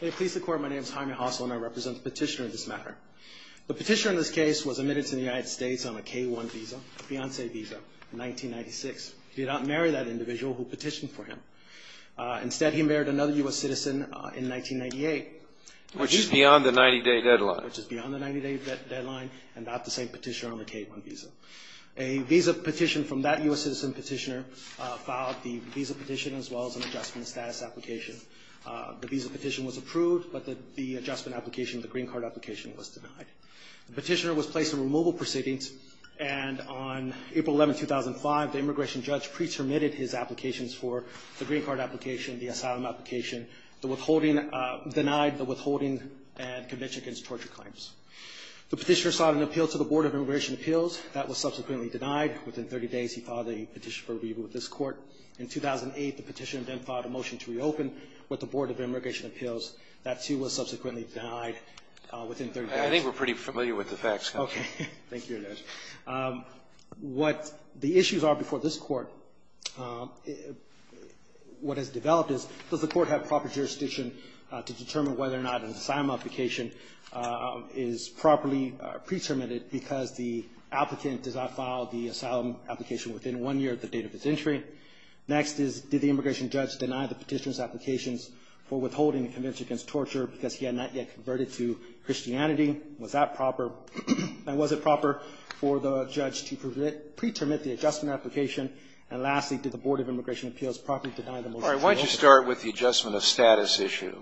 Please the court, my name is Jaime Hossel and I represent the petitioner in this matter. The petitioner in this case was admitted to the United States on a K-1 visa, a fiancee visa, in 1996. He did not marry that individual who petitioned for him. Instead, he married another U.S. citizen in 1998. Which is beyond the 90-day deadline. Which is beyond the 90-day deadline and not the same petitioner on the K-1 visa. A visa petition from that U.S. citizen petitioner filed the visa petition as well as an adjustment application, a status application. The visa petition was approved, but the adjustment application, the green card application, was denied. The petitioner was placed in removal proceedings and on April 11, 2005, the immigration judge pre-terminated his applications for the green card application, the asylum application, the withholding, denied the withholding and conviction against torture claims. The petitioner sought an appeal to the Board of Immigration Appeals. That was subsequently denied. Within 30 days, he filed a petition for review with this court. In 2008, the petitioner then filed a motion to reopen with the Board of Immigration Appeals. That, too, was subsequently denied within 30 days. I think we're pretty familiar with the facts, Congressman. Okay. Thank you, Judge. What the issues are before this Court, what has developed is, does the Court have proper jurisdiction to determine whether or not an asylum application is properly pre-terminated because the applicant does not file the asylum application within one year of the date of its entry? Next is, did the immigration judge deny the petitioner's applications for withholding and conviction against torture because he had not yet converted to Christianity? Was that proper? And was it proper for the judge to pre-terminate the adjustment application? And lastly, did the Board of Immigration Appeals properly deny the motion to reopen? All right. Why don't you start with the adjustment of status issue?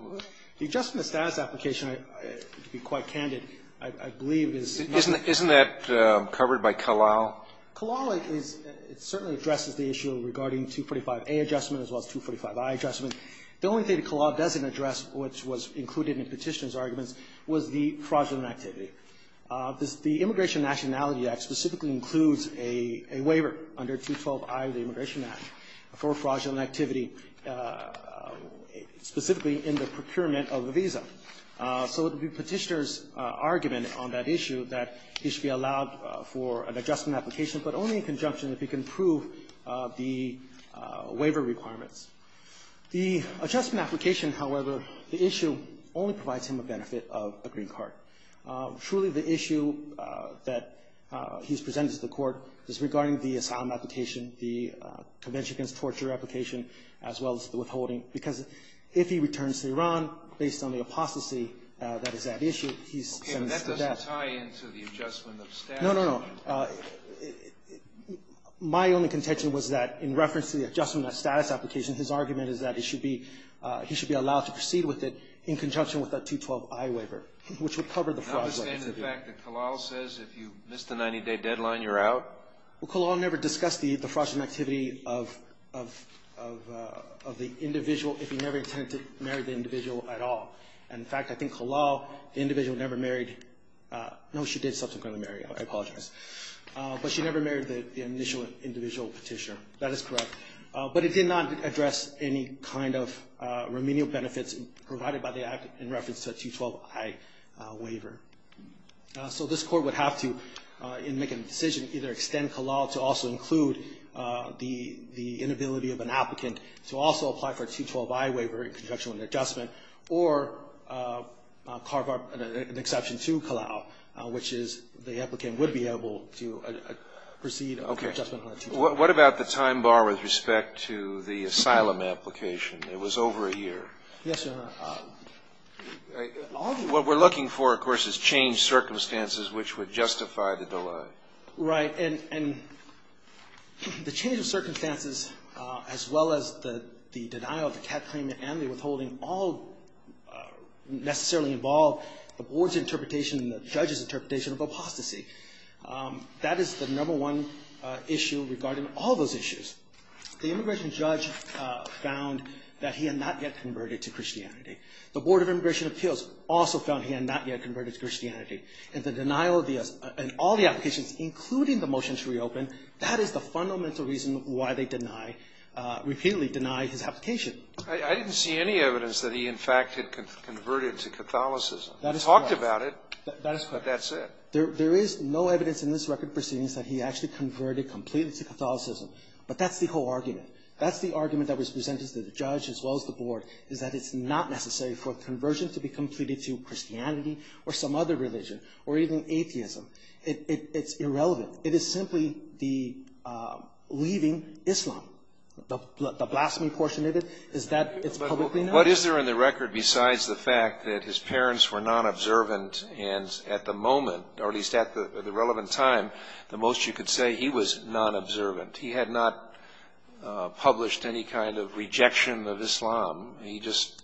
The adjustment of status application, to be quite candid, I believe is not the case. Isn't that covered by Calal? Calal is – it certainly addresses the issue regarding 245A adjustment as well as 245I adjustment. The only thing that Calal doesn't address, which was included in the petitioner's arguments, was the fraudulent activity. The Immigration and Nationality Act specifically includes a waiver under 212I of the Immigration Act for fraudulent activity, specifically in the procurement of a visa. So the petitioner's argument on that issue that he should be allowed for an adjustment application, but only in conjunction if he can prove the waiver requirements. The adjustment application, however, the issue only provides him a benefit of a green card. Truly, the issue that he's presented to the court is regarding the asylum application, the conviction against torture application, as well as the withholding, because if he returns to Iran, based on the apostasy that is at issue, he's sentenced to death. Does that tie into the adjustment of status? No, no, no. My only contention was that in reference to the adjustment of status application, his argument is that he should be allowed to proceed with it in conjunction with that 212I waiver, which would cover the fraudulent activity. Notwithstanding the fact that Calal says if you miss the 90-day deadline, you're out? Well, Calal never discussed the fraudulent activity of the individual if he never intended to marry the individual at all. In fact, I think Calal, the individual never married. No, she did subsequently marry. I apologize. But she never married the initial individual petitioner. That is correct. But it did not address any kind of remedial benefits provided by the act in reference to a 212I waiver. So this court would have to, in making the decision, either extend Calal to also include the inability of an applicant to also apply for a 212I waiver in conjunction with the adjustment, or carve up an exception to Calal, which is the applicant would be able to proceed over the adjustment of that 212I. Okay. What about the time bar with respect to the asylum application? It was over a year. Yes, Your Honor. All of you. What we're looking for, of course, is changed circumstances which would justify the delay. Right. And the change of circumstances, as well as the denial of the CAT claim and the withholding all necessarily involve the board's interpretation and the judge's interpretation of apostasy. That is the number one issue regarding all those issues. The immigration judge found that he had not yet converted to Christianity. The Board of Immigration Appeals also found he had not yet converted to Christianity. And all the applications, including the motion to reopen, that is the fundamental reason why they repeatedly deny his application. I didn't see any evidence that he, in fact, had converted to Catholicism. That is correct. He talked about it. That is correct. But that's it. There is no evidence in this record proceedings that he actually converted completely to Catholicism. But that's the whole argument. That's the argument that was presented to the judge, as well as the board, is that it's not necessary for conversion to be completed to Christianity or some other religion or even atheism. It's irrelevant. It is simply the leaving Islam. The blasphemy portion of it is that it's publicly known. But what is there in the record besides the fact that his parents were non-observant and at the moment, or at least at the relevant time, the most you could say he was non-observant. He had not published any kind of rejection of Islam. He just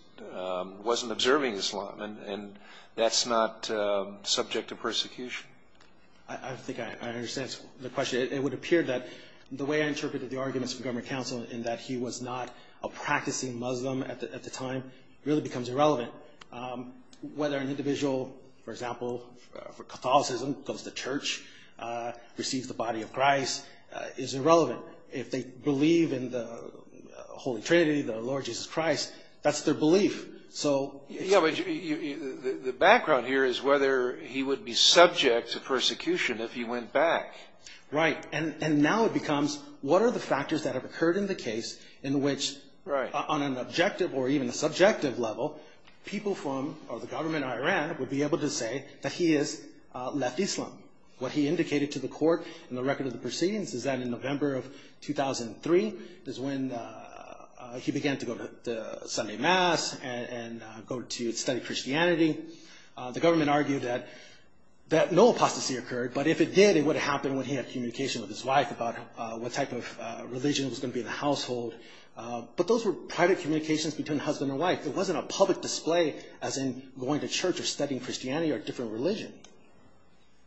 wasn't observing Islam. And that's not subject to persecution. I think I understand the question. It would appear that the way I interpreted the arguments for government counsel in that he was not a practicing Muslim at the time really becomes irrelevant. Whether an individual, for example, for Catholicism, goes to church, receives the body of Christ, is irrelevant. If they believe in the Holy Trinity, the Lord Jesus Christ, that's their belief. So... Yeah, but the background here is whether he would be subject to persecution if he went back. Right. And now it becomes, what are the factors that have occurred in the case in which, on an objective or even a subjective level, people from the government of Iran would be able to say that he has left Islam? What he indicated to the court in the record of the proceedings is that in November of 2003, is when he began to go to Sunday Mass and go to study Christianity. The government argued that no apostasy occurred, but if it did, it would have happened when he had communication with his wife about what type of religion was going to be in the household. But those were private communications between husband and wife. It wasn't a public display as in going to church or studying Christianity or different religion.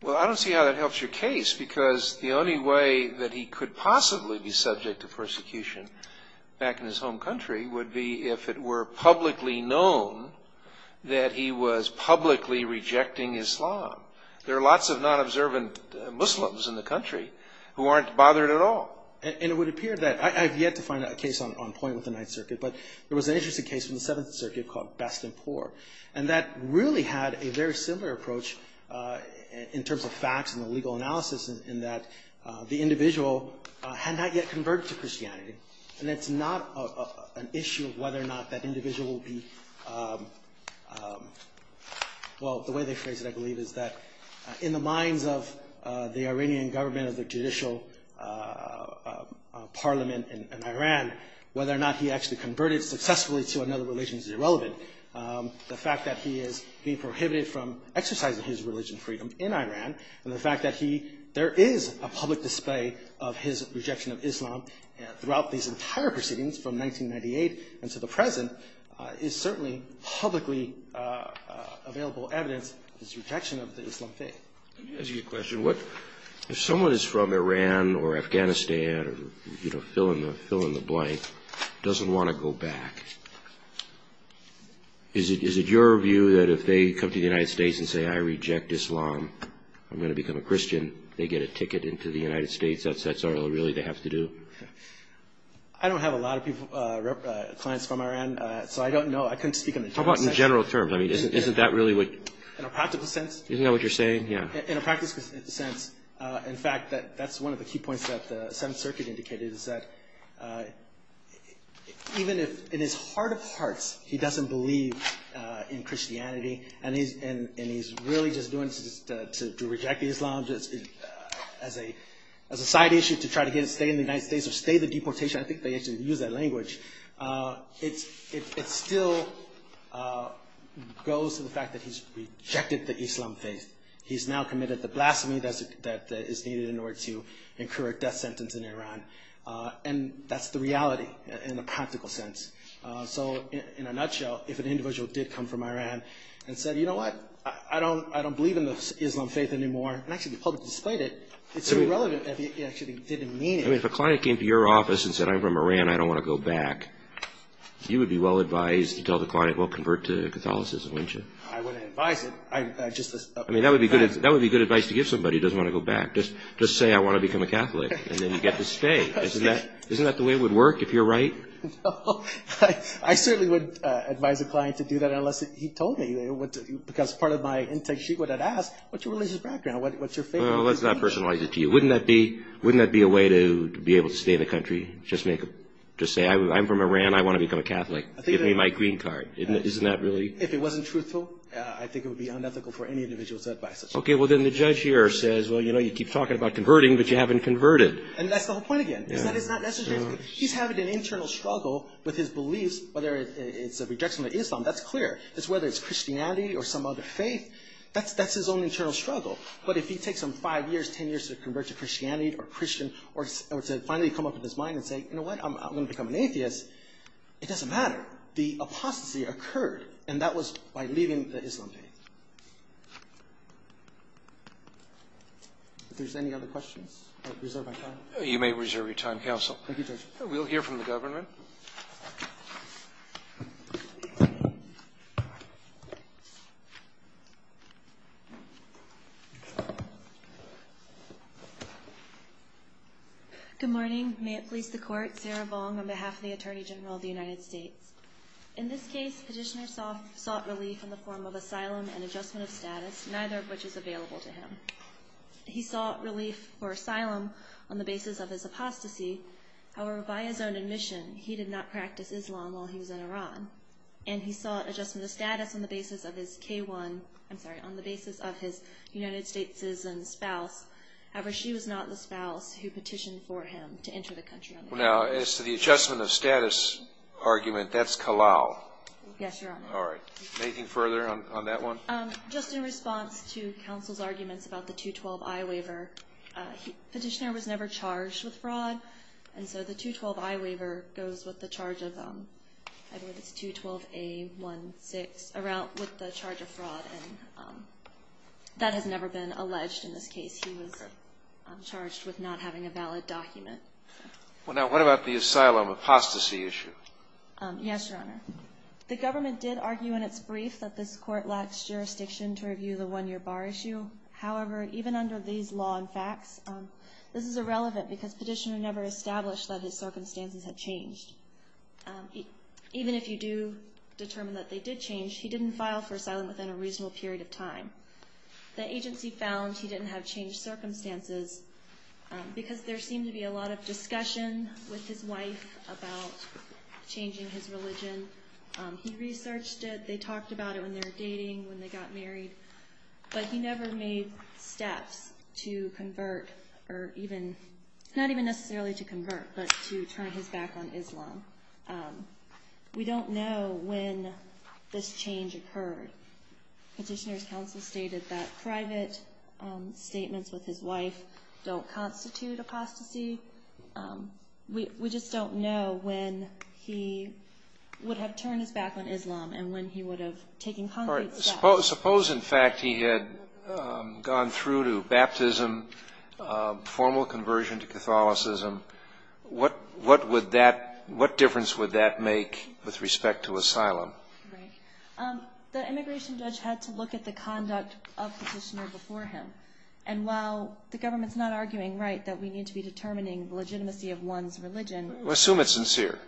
Well, I don't see how that helps your case, because the only way that he could possibly be subject to persecution back in his home country would be if it were publicly known that he was publicly rejecting Islam. There are lots of non-observant Muslims in the country who aren't bothered at all. And it would appear that, I have yet to find a case on point with the Ninth Circuit, but there was an interesting case in the Seventh Circuit called Best and Poor, and that really had a very similar approach in terms of facts and the legal analysis in that the individual had not yet converted to Christianity, and it's not an issue of whether or not that individual will be, well, the way they phrase it, I believe, is that in the minds of the Iranian government or the judicial parliament in Iran, whether or not he actually converted successfully to another religion is irrelevant. The fact that he is being prohibited from exercising his religion freedom in Iran, and the fact that there is a public display of his rejection of Islam throughout these entire proceedings, from 1998 until the present, is certainly publicly available evidence of his rejection of the Islam faith. Let me ask you a question. If someone is from Iran or Afghanistan, or, you know, fill in the blank, doesn't want to go back, is it your view that if they come to the United States and say, I reject Islam, I'm going to become a Muslim in the United States, that's all, really, they have to do? I don't have a lot of clients from Iran, so I don't know. I couldn't speak on the general terms. How about in general terms? I mean, isn't that really what... In a practical sense? Isn't that what you're saying? Yeah. In a practical sense, in fact, that's one of the key points that the Seventh Circuit indicated, is that even if in his heart of hearts he doesn't believe in Islam, as a side issue to try to stay in the United States, or stay the deportation, I think they actually use that language, it still goes to the fact that he's rejected the Islam faith. He's now committed the blasphemy that is needed in order to incur a death sentence in Iran, and that's the reality in a practical sense. So, in a nutshell, if an individual did come from Iran and said, you know what, I don't believe in the Islam faith anymore, and actually the public displayed it, it's irrelevant if he actually didn't mean it. I mean, if a client came to your office and said, I'm from Iran, I don't want to go back, you would be well advised to tell the client, well, convert to Catholicism, wouldn't you? I wouldn't advise it. I just... I mean, that would be good advice to give somebody who doesn't want to go back. Just say, I want to become a Catholic, and then you get to stay. Isn't that the way it would work, if you're right? No. I certainly would advise a client to do that, unless he told me, because part of my intake, she would have asked, what's your religious background? What's your faith? Let's not personalize it to you. Wouldn't that be a way to be able to stay in the country? Just say, I'm from Iran, I want to become a Catholic. Give me my green card. Isn't that really... If it wasn't truthful, I think it would be unethical for any individual to advise such a thing. Okay, well, then the judge here says, well, you know, you keep talking about converting, but you haven't converted. And that's the whole point again. It's not necessarily... He's having an internal struggle with his beliefs, whether it's a rejection of Islam, that's clear. Whether it's Christianity or some other faith, that's his own internal struggle. But if he takes him five years, ten years to convert to Christianity or Christian, or to finally come up with his mind and say, you know what, I'm going to become an atheist, it doesn't matter. The apostasy occurred, and that was by leaving the Islam faith. If there's any other questions, I reserve my time. You may reserve your time, counsel. Thank you, Judge. We'll hear from the government. Good morning. May it please the Court. Sarah Vong on behalf of the Attorney General of the United States. In this case, Petitioner sought relief in the form of asylum and adjustment of status, neither of which is available to him. He sought relief or asylum on the basis of his apostasy. However, by his own admission, he did not practice Islam while he was in Iran. And he sought adjustment of status on the basis of his K1, I'm sorry, on the basis of his United States citizen spouse. However, she was not the spouse who petitioned for him to enter the country. Now, as to the adjustment of status argument, that's Kalal. Yes, Your Honor. All right. Anything further on that one? Just in response to counsel's arguments about the 212I waiver, Petitioner was never charged with fraud. And so the 212I waiver goes with the charge of, I believe it's 212A16, with the charge of fraud. And that has never been alleged in this case. He was charged with not having a valid document. Well, now what about the asylum apostasy issue? Yes, Your Honor. The government did argue in its brief that this court lacks jurisdiction to review the one-year bar issue. However, even under these law and facts, this is irrelevant because Petitioner never established that his circumstances had changed. Even if you do determine that they did change, he didn't file for asylum within a reasonable period of time. The agency found he didn't have changed circumstances because there seemed to be a lot of discussion with his wife about changing his religion. He researched it. They talked about it when they were dating, when they got married. But he never made steps to convert or even, not even necessarily to convert, but to turn his back on Islam. We don't know when this change occurred. Petitioner's counsel stated that private statements with his wife don't constitute apostasy. We just don't know when he would have turned his back on Islam and when he would have taken concrete steps. Suppose, in fact, he had gone through to baptism, formal conversion to Catholicism. What difference would that make with respect to asylum? The immigration judge had to look at the conduct of Petitioner before him. And while the government's not arguing that we need to be determining the legitimacy of one's religion... Well, assume it's sincere.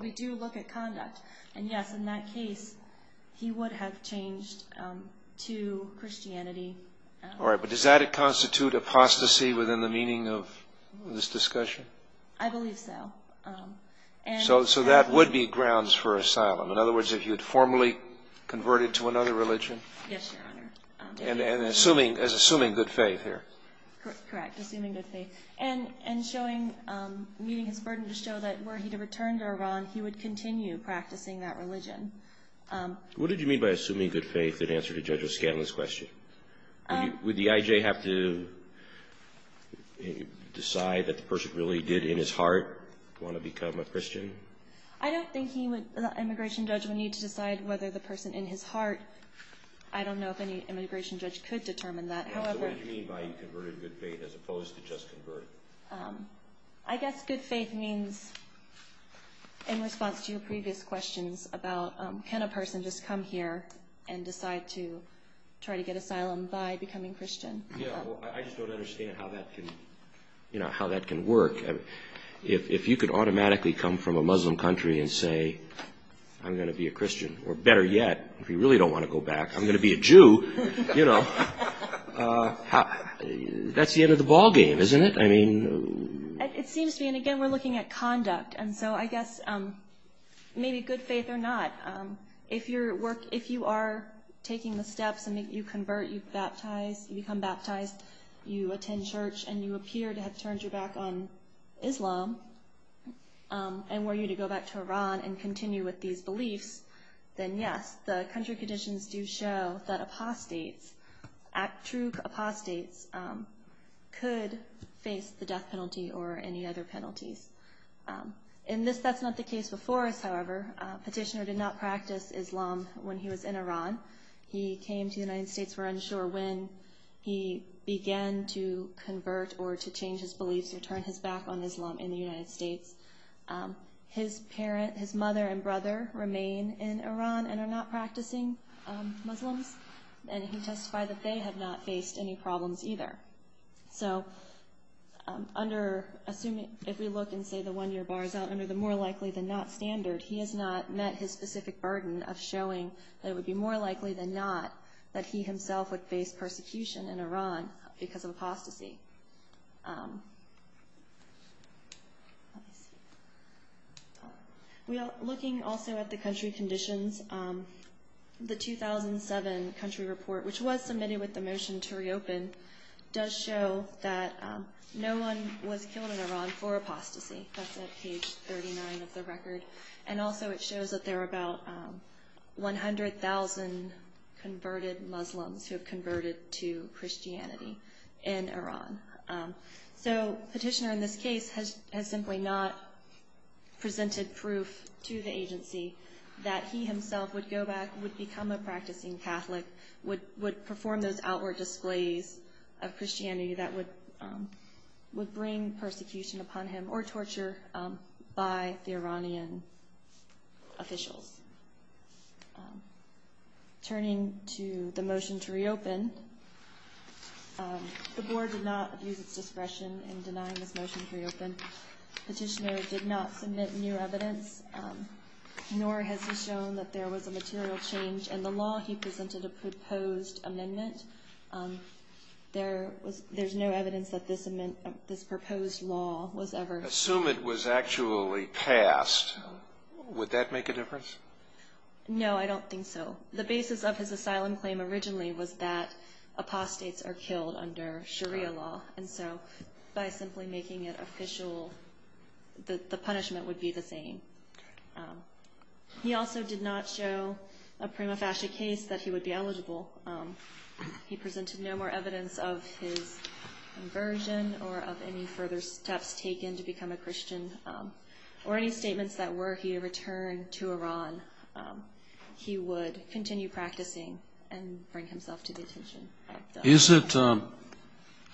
We do look at conduct. And yes, in that case, he would have changed to Christianity. All right, but does that constitute apostasy within the meaning of this discussion? I believe so. So that would be grounds for asylum? In other words, if he had formally converted to another religion? Yes, Your Honor. And assuming good faith here? Correct, assuming good faith. And showing, meeting his burden to show that were he to return to Iran, he would continue practicing that religion. What did you mean by assuming good faith in answer to Judge O'Scanlan's question? Would the IJ have to decide that the person really did in his heart want to become a Christian? I don't think the immigration judge would need to decide whether the person in his heart... I don't know if any immigration judge could determine that. So what did you mean by you converted good faith as opposed to just converted? I guess good faith means, in response to your previous questions about, can a person just come here and decide to try to get asylum by becoming Christian? I just don't understand how that can work. If you could automatically come from a Muslim country and say, I'm going to be a Christian, or better yet, if you really don't want to go back, I'm going to be a Jew, you know, that's the end of the ballgame, isn't it? It seems to me, and again, we're looking at conduct, and so I guess maybe good faith or not, if you are taking the steps and you convert, you become baptized, you attend church and you appear to have turned your back on Islam, and were you to go back to Iran and continue with these beliefs, then yes, the country conditions do show that apostates, true apostates, could face the death penalty or any other penalties. In this, that's not the case before us, however. Petitioner did not practice Islam when he was in Iran. He came to the United States, we're unsure, when he began to convert or to change his beliefs or turn his back on Islam in the United States. His mother and brother remain in Iran and are not practicing Muslims, and he testified that they have not faced any problems either. So under, assuming, if we look and say the one-year bar is out, under the more likely than not standard, he has not met his specific burden of showing that it would be more likely than not that he himself would face persecution in Iran because of apostasy. Looking also at the country conditions, the 2007 country report, which was submitted with the motion to reopen, does show that no one was killed in Iran for apostasy. That's at page 39 of the record. And also it shows that there are about 100,000 converted Muslims who have converted to Christianity in Iran. So petitioner in this case has simply not presented proof to the agency that he himself would go back, would become a practicing Catholic, would perform those outward displays of Christianity that would bring persecution upon him or torture by the Iranian officials. Turning to the motion to reopen, the board did not abuse its discretion in denying this motion to reopen. Petitioner did not submit new evidence, nor has he shown that there was a material change in the law. He presented a proposed amendment. There's no evidence that this proposed law was ever... Assume it was actually passed. Would that make a difference? No, I don't think so. The basis of his asylum claim originally was that apostates are killed under Sharia law. And so by simply making it official, the punishment would be the same. He also did not show a prima facie case that he would be eligible. He presented no more evidence of his inversion or of any further steps taken to become a Christian. Or any statements that were, he returned to Iran. He would continue practicing and bring himself to detention. Is it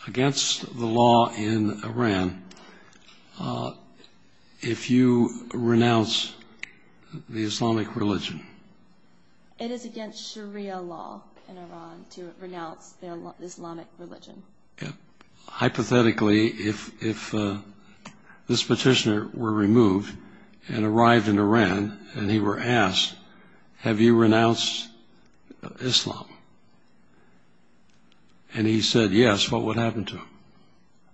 against the law in Iran if you renounce the Islamic religion? It is against Sharia law in Iran to renounce the Islamic religion. Hypothetically, if this petitioner were removed and arrived in Iran, and he were asked, have you renounced Islam? And he said yes, what would happen to him?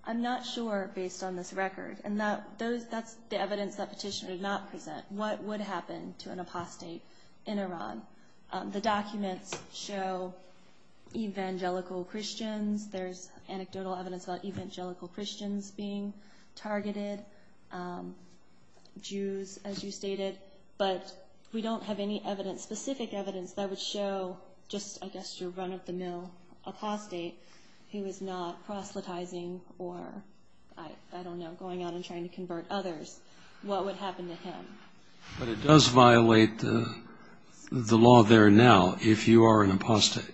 I'm not sure based on this record. And that's the evidence that petitioner did not present. What would happen to an apostate in Iran? The documents show evangelical Christians. There's anecdotal evidence about evangelical Christians being targeted. Jews, as you stated. But we don't have any specific evidence that would show just, I guess, your run-of-the-mill apostate who is not proselytizing or, I don't know, going out and trying to convert others. What would happen to him? But it does violate the law there now if you are an apostate.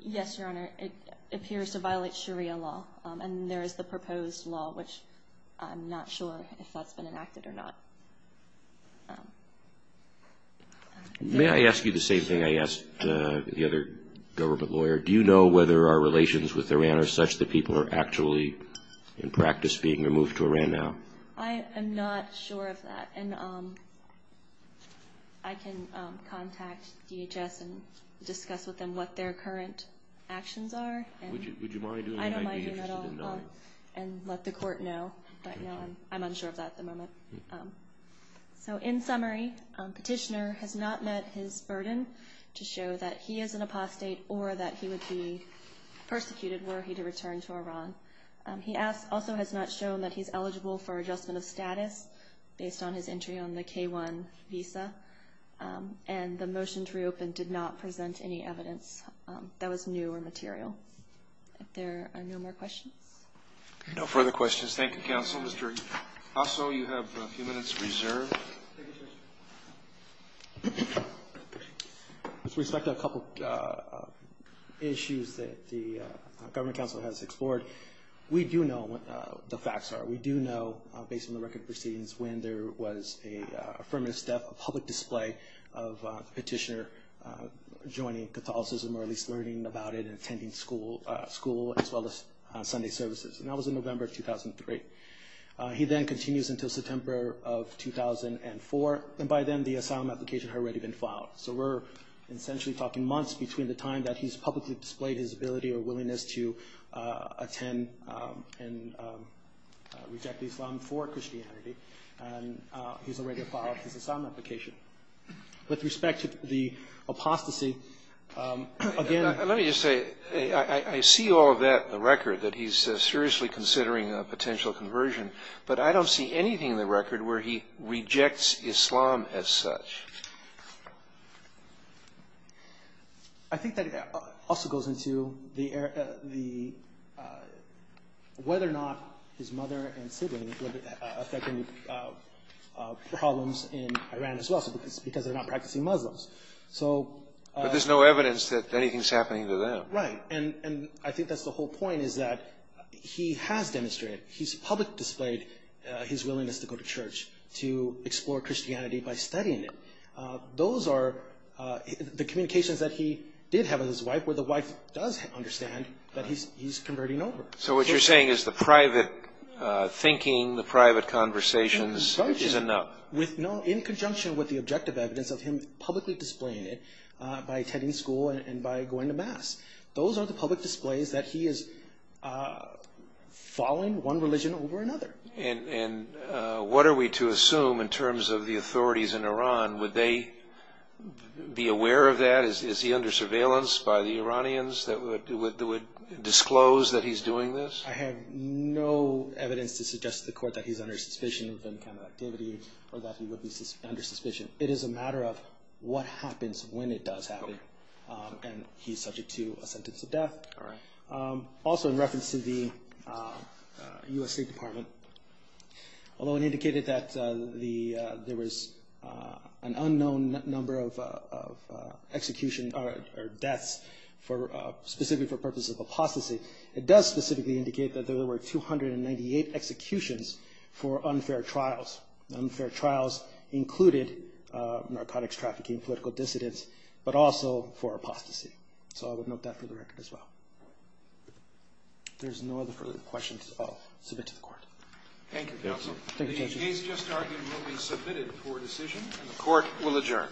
Yes, Your Honor. It appears to violate Sharia law. And there is the proposed law, which I'm not sure if that's been enacted or not. May I ask you the same thing I asked the other government lawyer? Do you know whether our relations with Iran are such that people are actually in practice being removed to Iran now? I am not sure of that. And I can contact DHS and discuss with them what their current actions are. Would you mind doing that? I don't mind doing that at all. And let the court know. I'm unsure of that at the moment. So in summary, Petitioner has not met his burden to show that he is an apostate or that he would be persecuted were he to return to Iran. He also has not shown that he's eligible for adjustment of status based on his entry on the K-1 visa. And the motion to reopen did not present any evidence that was new or material. If there are no more questions. No further questions. Thank you, counsel. Also, you have a few minutes reserved. Thank you, sir. With respect to a couple of issues that the government counsel has explored, we do know what the facts are. We do know, based on the record of proceedings, when there was an affirmative step, a public display of Petitioner joining Catholicism or at least learning about it and attending school as well as Sunday services. And that was in November of 2003. He then continues until September of 2004. And by then, the asylum application had already been filed. So we're essentially talking months between the time that he's publicly displayed his ability or willingness to attend and reject Islam for Christianity. And he's already filed his asylum application. With respect to the apostasy, again- Let me just say, I see all of that in the record, that he's seriously considering a potential conversion. But I don't see anything in the record where he rejects Islam as such. I think that also goes into whether or not his mother and sibling were affecting problems in Iran as well, because they're not practicing Muslims. But there's no evidence that anything's happening to them. Right. And I think that's the whole point, is that he has demonstrated, he's publicly displayed his willingness to go to church, to explore Christianity by studying it. Those are the communications that he did have with his wife, where the wife does understand that he's converting over. So what you're saying is the private thinking, the private conversations is enough. In conjunction with the objective evidence of him publicly displaying it, by attending school and by going to mass. Those are the public displays that he is following one religion over another. And what are we to assume in terms of the authorities in Iran? Would they be aware of that? Is he under surveillance by the Iranians that would disclose that he's doing this? I have no evidence to suggest to the court that he's under suspicion of any kind of activity, or that he would be under suspicion. It is a matter of what happens when it does happen. And he's subject to a sentence of death. Also in reference to the U.S. State Department, although it indicated that there was an unknown number of execution or deaths, specifically for purposes of apostasy, it does specifically indicate that there were 298 executions for unfair trials. Unfair trials included narcotics trafficking, political dissidents, but also for apostasy. So I would note that for the record as well. If there's no other questions, I'll submit to the court. Thank you, counsel. The case just argued will be submitted for decision, and the court will adjourn.